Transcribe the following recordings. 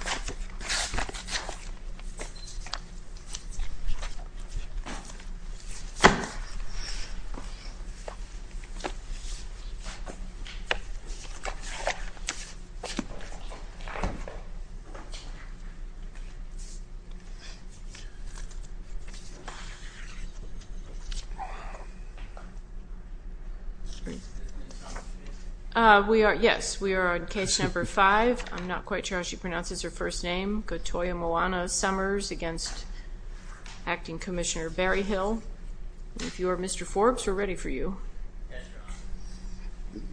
Nancy A. Berryhill We are, yes, we are on case number five. I'm not quite sure how she pronounces her first name. Gotoimoana Summers against Acting Commissioner Berryhill. If you are Mr. Forbes, we're ready for you. Yes, Your Honor.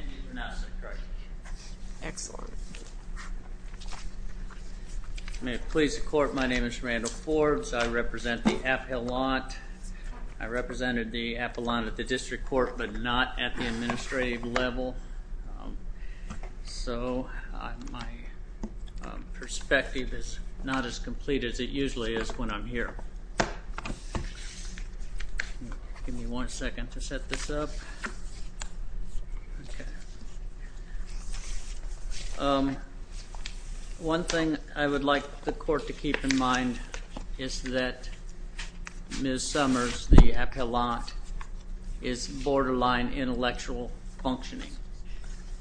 And you've pronounced it correctly. Excellent. May it please the court, my name is Randall Forbes. I represent the appellant. I represented the appellant at the district court but not at the administrative level. So my perspective is not as complete as it usually is when I'm here. Give me one second to set this up. Okay. One thing I would like the court to keep in mind is that Ms. Summers, the appellant, is borderline intellectual functioning.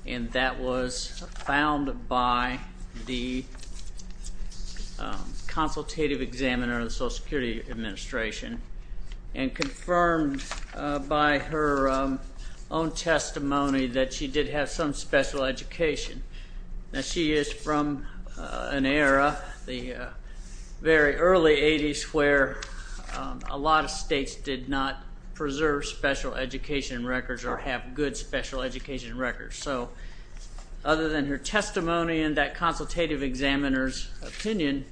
And that was found by the consultative examiner of the Social Security Administration and confirmed by her own testimony that she did have some special education. Now she is from an era, the very early 80s, where a lot of states did not preserve special education records or have good special education records. So other than her testimony and that consultative examiner's opinion,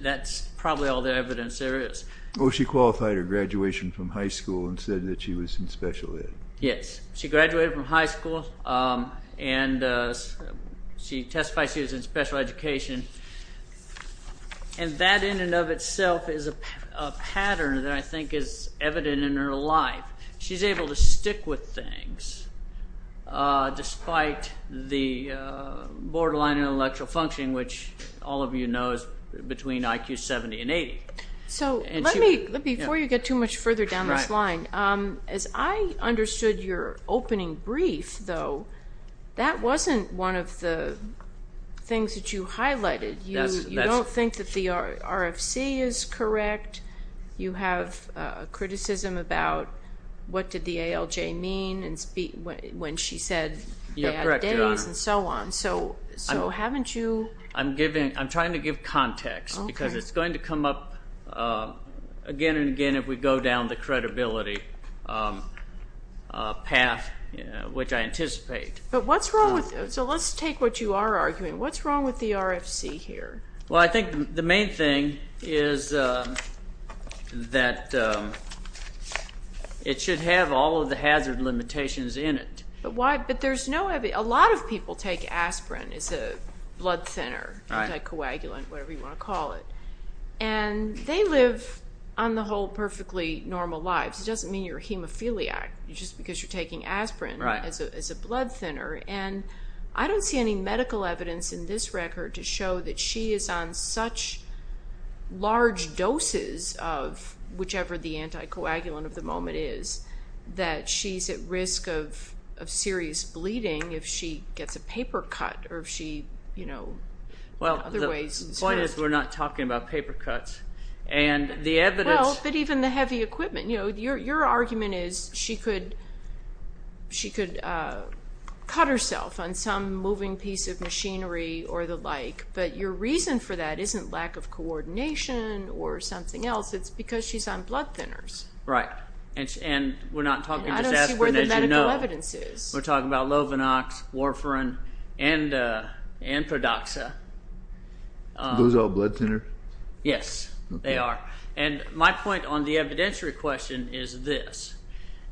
that's probably all the evidence there is. Well, she qualified her graduation from high school and said that she was in special ed. Yes. She graduated from high school and she testified she was in special education. And that in and of itself is a pattern that I think is evident in her life. She's able to stick with things despite the borderline intellectual functioning, which all of you know is between IQ 70 and 80. So before you get too much further down this line, as I understood your opening brief, though, that wasn't one of the things that you highlighted. You don't think that the RFC is correct. You have criticism about what did the ALJ mean when she said they have days and so on. So haven't you? I'm trying to give context because it's going to come up again and again if we go down the credibility path, which I anticipate. So let's take what you are arguing. What's wrong with the RFC here? Well, I think the main thing is that it should have all of the hazard limitations in it. A lot of people take aspirin as a blood thinner, anticoagulant, whatever you want to call it. And they live, on the whole, perfectly normal lives. It doesn't mean you're a hemophiliac just because you're taking aspirin as a blood thinner. And I don't see any medical evidence in this record to show that she is on such large doses of whichever the anticoagulant of the moment is, that she's at risk of serious bleeding if she gets a paper cut or if she, you know, in other ways. Well, the point is we're not talking about paper cuts. Well, but even the heavy equipment. You know, your argument is she could cut herself on some moving piece of machinery or the like. But your reason for that isn't lack of coordination or something else. It's because she's on blood thinners. Right. And we're not talking just aspirin as you know. And I don't see where the medical evidence is. We're talking about Lovenox, Warfarin, and Prodoxa. Are those all blood thinners? Yes, they are. And my point on the evidentiary question is this.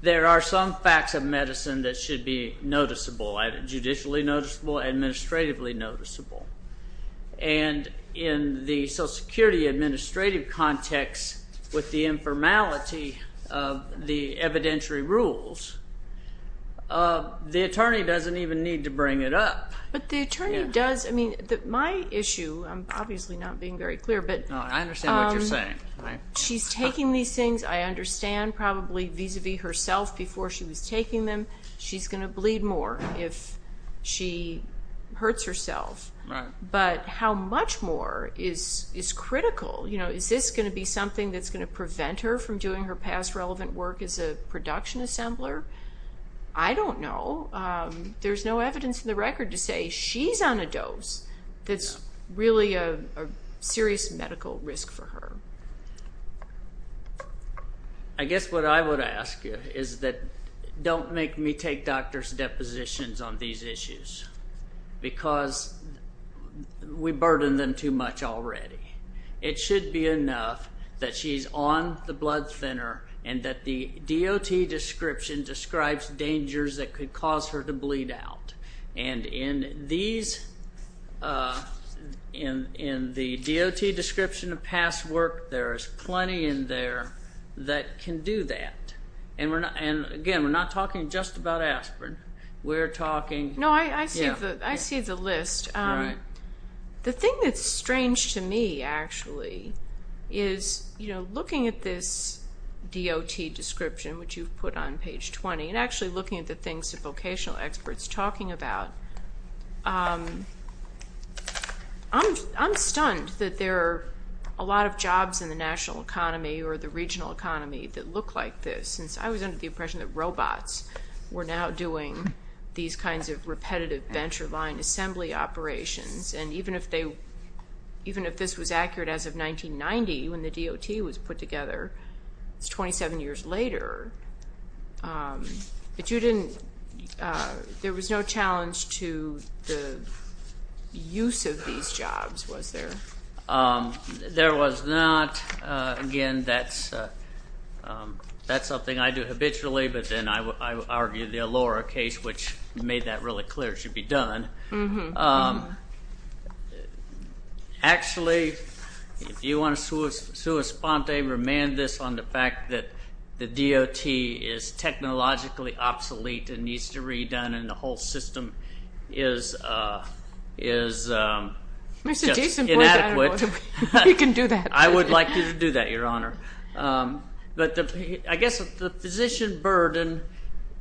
There are some facts of medicine that should be noticeable, either judicially noticeable or administratively noticeable. And in the Social Security administrative context with the informality of the evidentiary rules, the attorney doesn't even need to bring it up. But the attorney does. I mean, my issue, I'm obviously not being very clear, but she's taking these things, I understand, probably vis-à-vis herself before she was taking them. She's going to bleed more if she hurts herself. Right. But how much more is critical? Is this going to be something that's going to prevent her from doing her past relevant work as a production assembler? I don't know. There's no evidence in the record to say she's on a dose that's really a serious medical risk for her. I guess what I would ask is that don't make me take doctor's depositions on these issues because we burden them too much already. It should be enough that she's on the blood thinner and that the DOT description describes dangers that could cause her to bleed out. And in the DOT description of past work, there is plenty in there that can do that. And, again, we're not talking just about aspirin. We're talking... No, I see the list. The thing that's strange to me, actually, is looking at this DOT description, which you've put on page 20, and actually looking at the things the vocational expert's talking about, I'm stunned that there are a lot of jobs in the national economy or the regional economy that look like this since I was under the impression that robots were now doing these kinds of repetitive venture line assembly operations. And even if this was accurate as of 1990 when the DOT was put together, it's 27 years later. But there was no challenge to the use of these jobs, was there? There was not. Again, that's something I do habitually, but then I argue the Allura case, which made that really clear it should be done. Actually, if you want to sui sponte, remand this on the fact that the DOT is technologically obsolete and needs to be redone, and the whole system is just inadequate. We can do that. I would like you to do that, Your Honor. But I guess the physician burden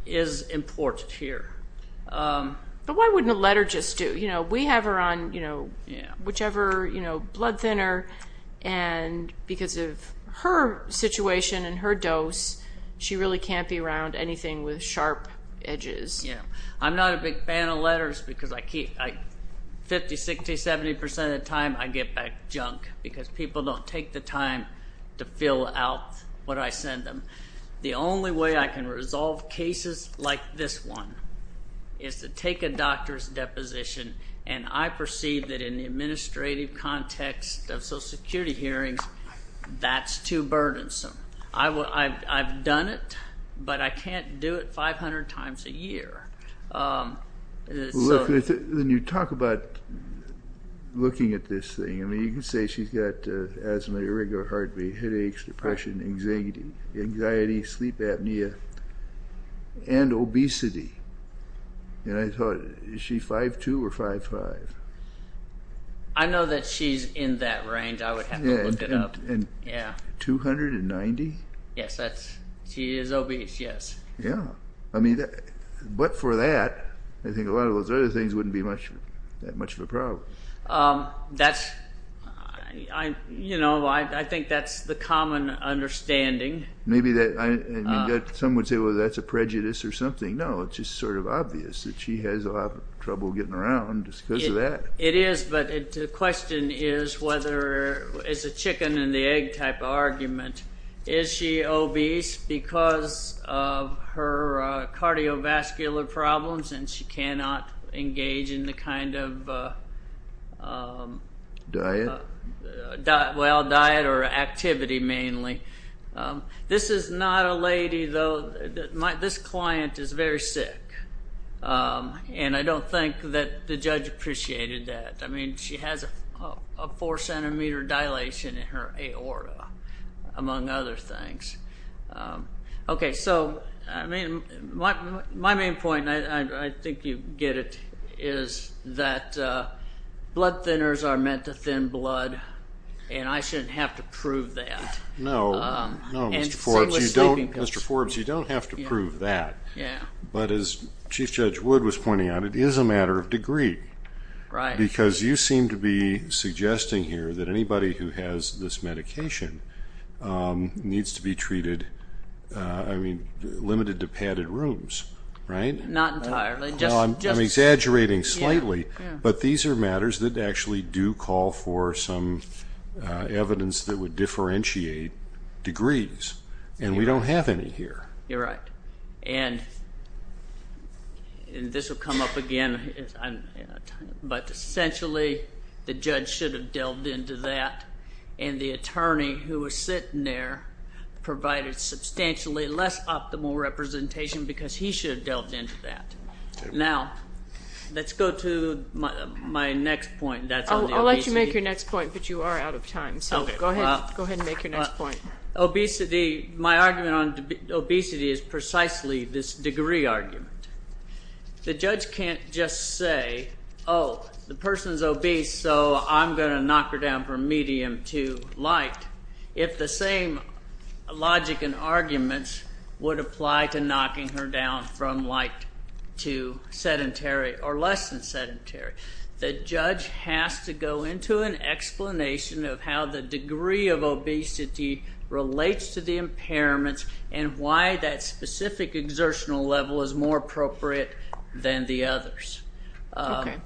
is important here. But why wouldn't a letter just do? We have her on whichever blood thinner, and because of her situation and her dose, she really can't be around anything with sharp edges. I'm not a big fan of letters because 50%, 60%, 70% of the time I get back junk because people don't take the time to fill out what I send them. The only way I can resolve cases like this one is to take a doctor's deposition, and I perceive that in the administrative context of Social Security hearings, that's too burdensome. I've done it, but I can't do it 500 times a year. When you talk about looking at this thing, you can say she's got asthma, irregular heart rate, headaches, depression, anxiety, sleep apnea, and obesity. I thought, is she 5'2 or 5'5? I know that she's in that range. I would have to look it up. 290? Yes, she is obese, yes. But for that, I think a lot of those other things wouldn't be that much of a problem. I think that's the common understanding. Some would say, well, that's a prejudice or something. No, it's just sort of obvious that she has a lot of trouble getting around just because of that. It is, but the question is whether it's a chicken-and-the-egg type argument. Is she obese because of her cardiovascular problems, and she cannot engage in the kind of diet or activity, mainly? This is not a lady, though. This client is very sick, and I don't think that the judge appreciated that. I mean, she has a 4-centimeter dilation in her aorta, among other things. My main point, and I think you get it, is that blood thinners are meant to thin blood, and I shouldn't have to prove that. No, Mr. Forbes, you don't have to prove that. But as Chief Judge Wood was pointing out, it is a matter of degree. Because you seem to be suggesting here that anybody who has this medication needs to be treated, I mean, limited to padded rooms, right? Not entirely. I'm exaggerating slightly, but these are matters that actually do call for some evidence that would differentiate degrees, and we don't have any here. You're right. And this will come up again, but essentially the judge should have delved into that, and the attorney who was sitting there provided substantially less optimal representation because he should have delved into that. Now, let's go to my next point. I'll let you make your next point, but you are out of time. So go ahead and make your next point. Obesity, my argument on obesity is precisely this degree argument. The judge can't just say, oh, the person's obese, so I'm going to knock her down from medium to light, if the same logic and arguments would apply to knocking her down from light to sedentary or less than sedentary. The judge has to go into an explanation of how the degree of obesity relates to the impairments and why that specific exertional level is more appropriate than the others. I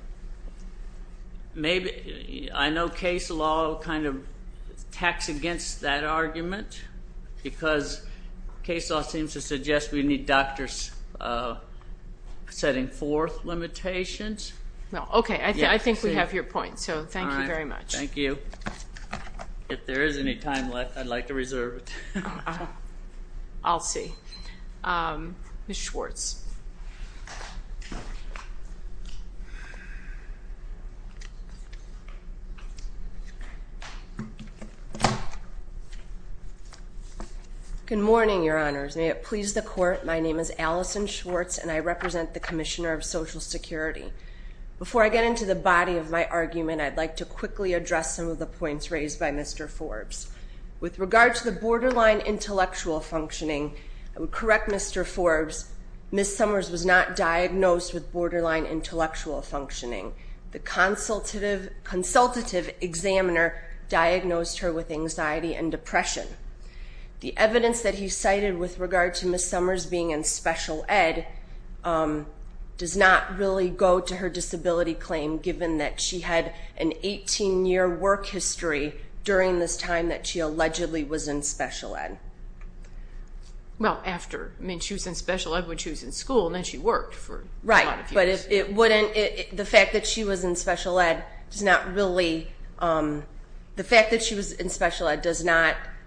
know case law kind of attacks against that argument because case law seems to suggest we need doctors setting forth limitations. Okay. I think we have your point, so thank you very much. All right. Thank you. If there is any time left, I'd like to reserve it. I'll see. Ms. Schwartz. Good morning, Your Honors. May it please the Court, my name is Allison Schwartz, and I represent the Commissioner of Social Security. Before I get into the body of my argument, I'd like to quickly address some of the points raised by Mr. Forbes. With regard to the borderline intellectual functioning, I would correct Mr. Forbes, Ms. Summers was not diagnosed with borderline intellectual functioning. The evidence that he cited with regard to Ms. Summers being in special ed. does not really go to her disability claim, given that she had an 18-year work history during this time that she allegedly was in special ed. Well, after. I mean, she was in special ed when she was in school, and then she worked for a lot of years. Right, but the fact that she was in special ed. does not really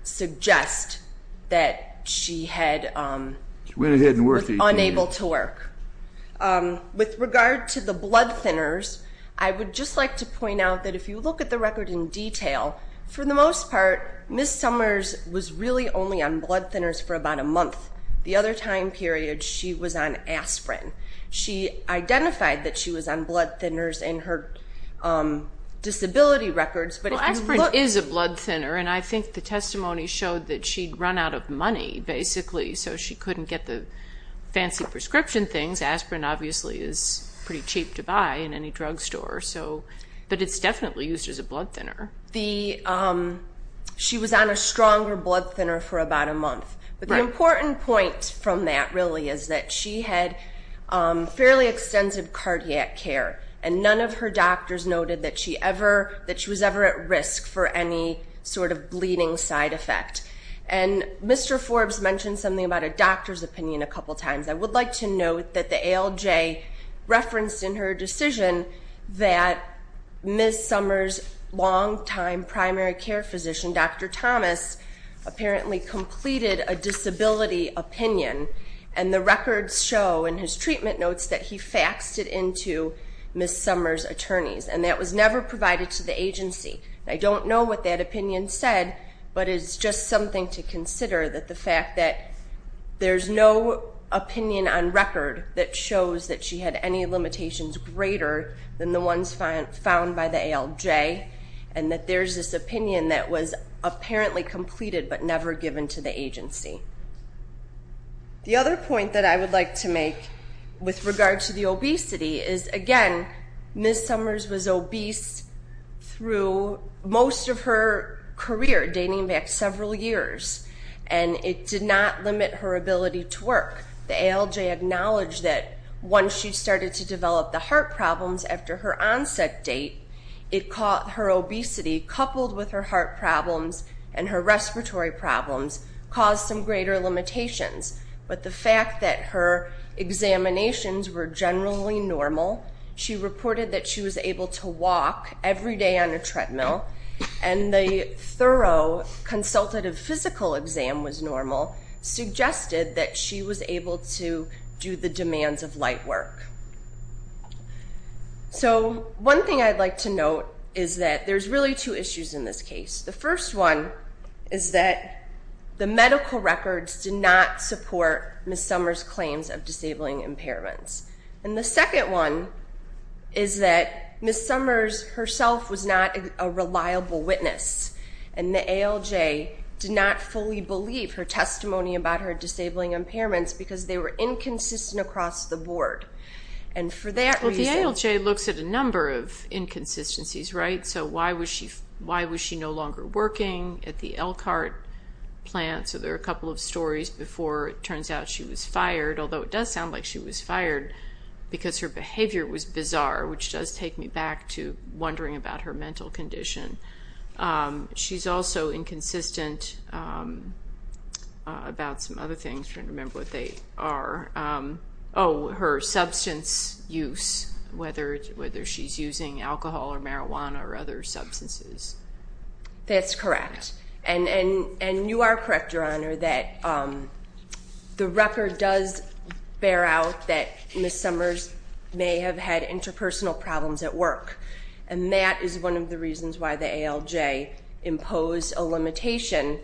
suggest that she was unable to work. With regard to the blood thinners, I would just like to point out that if you look at the record in detail, for the most part, Ms. Summers was really only on blood thinners for about a month. The other time period, she was on aspirin. She identified that she was on blood thinners in her disability records. Well, aspirin is a blood thinner, and I think the testimony showed that she'd run out of money, basically, so she couldn't get the fancy prescription things. Aspirin, obviously, is pretty cheap to buy in any drugstore, but it's definitely used as a blood thinner. She was on a stronger blood thinner for about a month. But the important point from that, really, is that she had fairly extensive cardiac care, and none of her doctors noted that she was ever at risk for any sort of bleeding side effect. And Mr. Forbes mentioned something about a doctor's opinion a couple times. I would like to note that the ALJ referenced in her decision that Ms. Summers' longtime primary care physician, Dr. Thomas, apparently completed a disability opinion, and the records show in his treatment notes that he faxed it into Ms. Summers' attorneys, and that was never provided to the agency. I don't know what that opinion said, but it's just something to consider, that the fact that there's no opinion on record that shows that she had any limitations greater than the ones found by the ALJ, and that there's this opinion that was apparently completed but never given to the agency. The other point that I would like to make with regard to the obesity is, again, Ms. Summers was obese through most of her career, dating back several years, and it did not limit her ability to work. The ALJ acknowledged that once she started to develop the heart problems after her onset date, her obesity, coupled with her heart problems and her respiratory problems, caused some greater limitations. But the fact that her examinations were generally normal, she reported that she was able to walk every day on a treadmill, and the thorough consultative physical exam was normal, suggested that she was able to do the demands of light work. So one thing I'd like to note is that there's really two issues in this case. The first one is that the medical records did not support Ms. Summers' claims of disabling impairments. And the second one is that Ms. Summers herself was not a reliable witness, and the ALJ did not fully believe her testimony about her disabling impairments because they were inconsistent across the board. Well, the ALJ looks at a number of inconsistencies, right? So why was she no longer working at the Elkhart plant? So there are a couple of stories before it turns out she was fired, although it does sound like she was fired because her behavior was bizarre, which does take me back to wondering about her mental condition. She's also inconsistent about some other things. I'm trying to remember what they are. Oh, her substance use, whether she's using alcohol or marijuana or other substances. That's correct. And you are correct, Your Honor, that the record does bear out that Ms. Summers may have had interpersonal problems at work, and that is one of the reasons why the ALJ imposed a limitation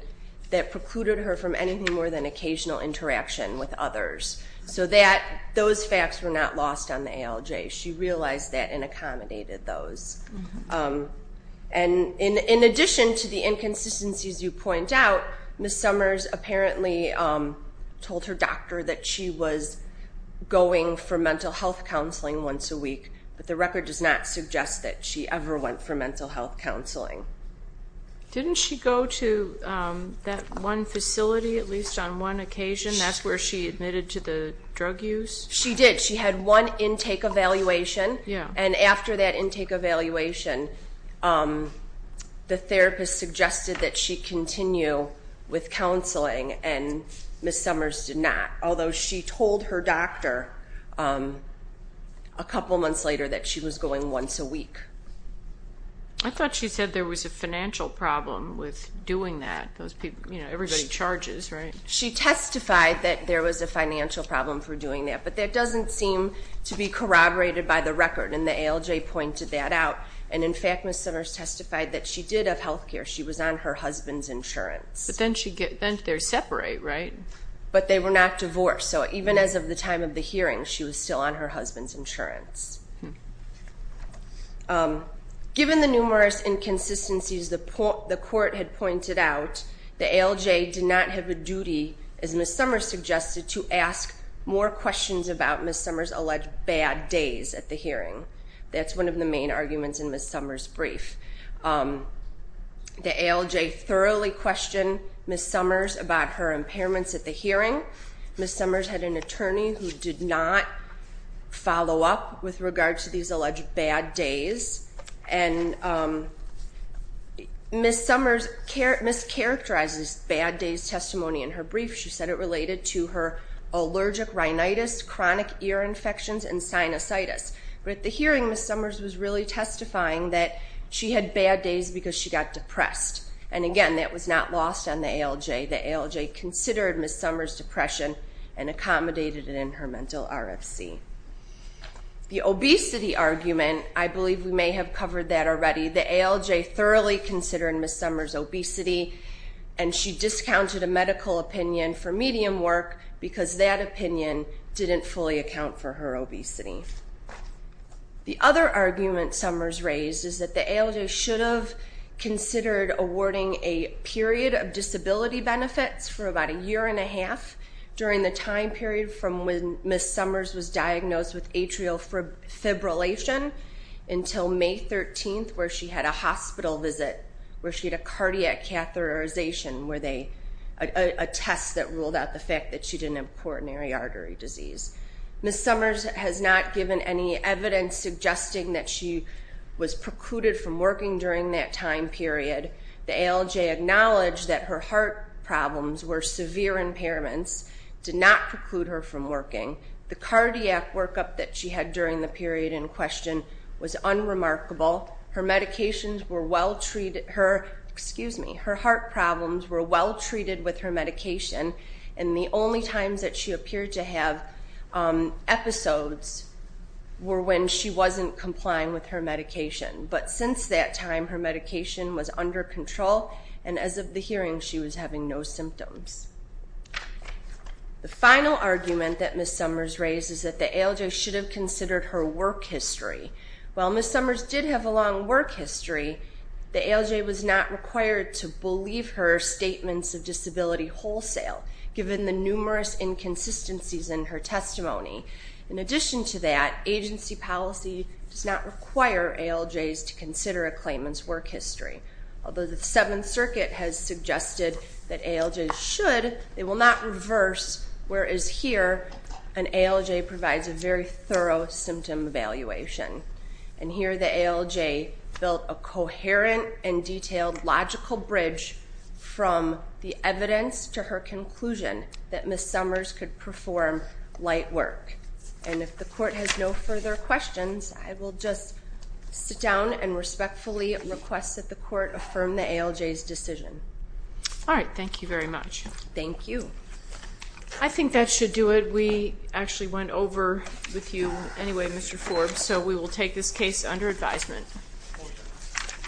that precluded her from anything more than occasional interaction with others. So those facts were not lost on the ALJ. She realized that and accommodated those. And in addition to the inconsistencies you point out, Ms. Summers apparently told her doctor that she was going for mental health counseling once a week, but the record does not suggest that she ever went for mental health counseling. Didn't she go to that one facility at least on one occasion? That's where she admitted to the drug use? She did. She had one intake evaluation, and after that intake evaluation, the therapist suggested that she continue with counseling, and Ms. Summers did not, although she told her doctor a couple months later that she was going once a week. I thought she said there was a financial problem with doing that. You know, everybody charges, right? She testified that there was a financial problem for doing that, but that doesn't seem to be corroborated by the record, and the ALJ pointed that out. And, in fact, Ms. Summers testified that she did have health care. She was on her husband's insurance. But then they're separate, right? But they were not divorced, so even as of the time of the hearing, she was still on her husband's insurance. Given the numerous inconsistencies the court had pointed out, the ALJ did not have a duty, as Ms. Summers suggested, to ask more questions about Ms. Summers' alleged bad days at the hearing. That's one of the main arguments in Ms. Summers' brief. The ALJ thoroughly questioned Ms. Summers about her impairments at the hearing. Ms. Summers had an attorney who did not follow up with regard to these alleged bad days. And Ms. Summers mischaracterizes bad days testimony in her brief. She said it related to her allergic rhinitis, chronic ear infections, and sinusitis. But at the hearing, Ms. Summers was really testifying that she had bad days because she got depressed. And, again, that was not lost on the ALJ. The ALJ considered Ms. Summers' depression and accommodated it in her mental RFC. The obesity argument, I believe we may have covered that already. The ALJ thoroughly considered Ms. Summers' obesity, and she discounted a medical opinion for medium work because that opinion didn't fully account for her obesity. The other argument Summers raised is that the ALJ should have considered awarding a period of disability benefits for about a year and a half during the time period from when Ms. Summers was diagnosed with atrial fibrillation until May 13th, where she had a hospital visit, where she had a cardiac catheterization, a test that ruled out the fact that she didn't have coronary artery disease. Ms. Summers has not given any evidence suggesting that she was precluded from working during that time period. The ALJ acknowledged that her heart problems were severe impairments, did not preclude her from working. The cardiac workup that she had during the period in question was unremarkable. Her heart problems were well treated with her medication, and the only times that she appeared to have episodes were when she wasn't complying with her medication. But since that time, her medication was under control, and as of the hearing, she was having no symptoms. The final argument that Ms. Summers raised is that the ALJ should have considered her work history. While Ms. Summers did have a long work history, the ALJ was not required to believe her statements of disability wholesale, given the numerous inconsistencies in her testimony. In addition to that, agency policy does not require ALJs to consider a claimant's work history. Although the Seventh Circuit has suggested that ALJs should, they will not reverse, whereas here, an ALJ provides a very thorough symptom evaluation. And here, the ALJ built a coherent and detailed logical bridge from the evidence to her conclusion that Ms. Summers could perform light work. And if the Court has no further questions, I will just sit down and respectfully request that the Court affirm the ALJ's decision. All right, thank you very much. Thank you. I think that should do it. We actually went over with you anyway, Mr. Forbes, so we will take this case under advisement.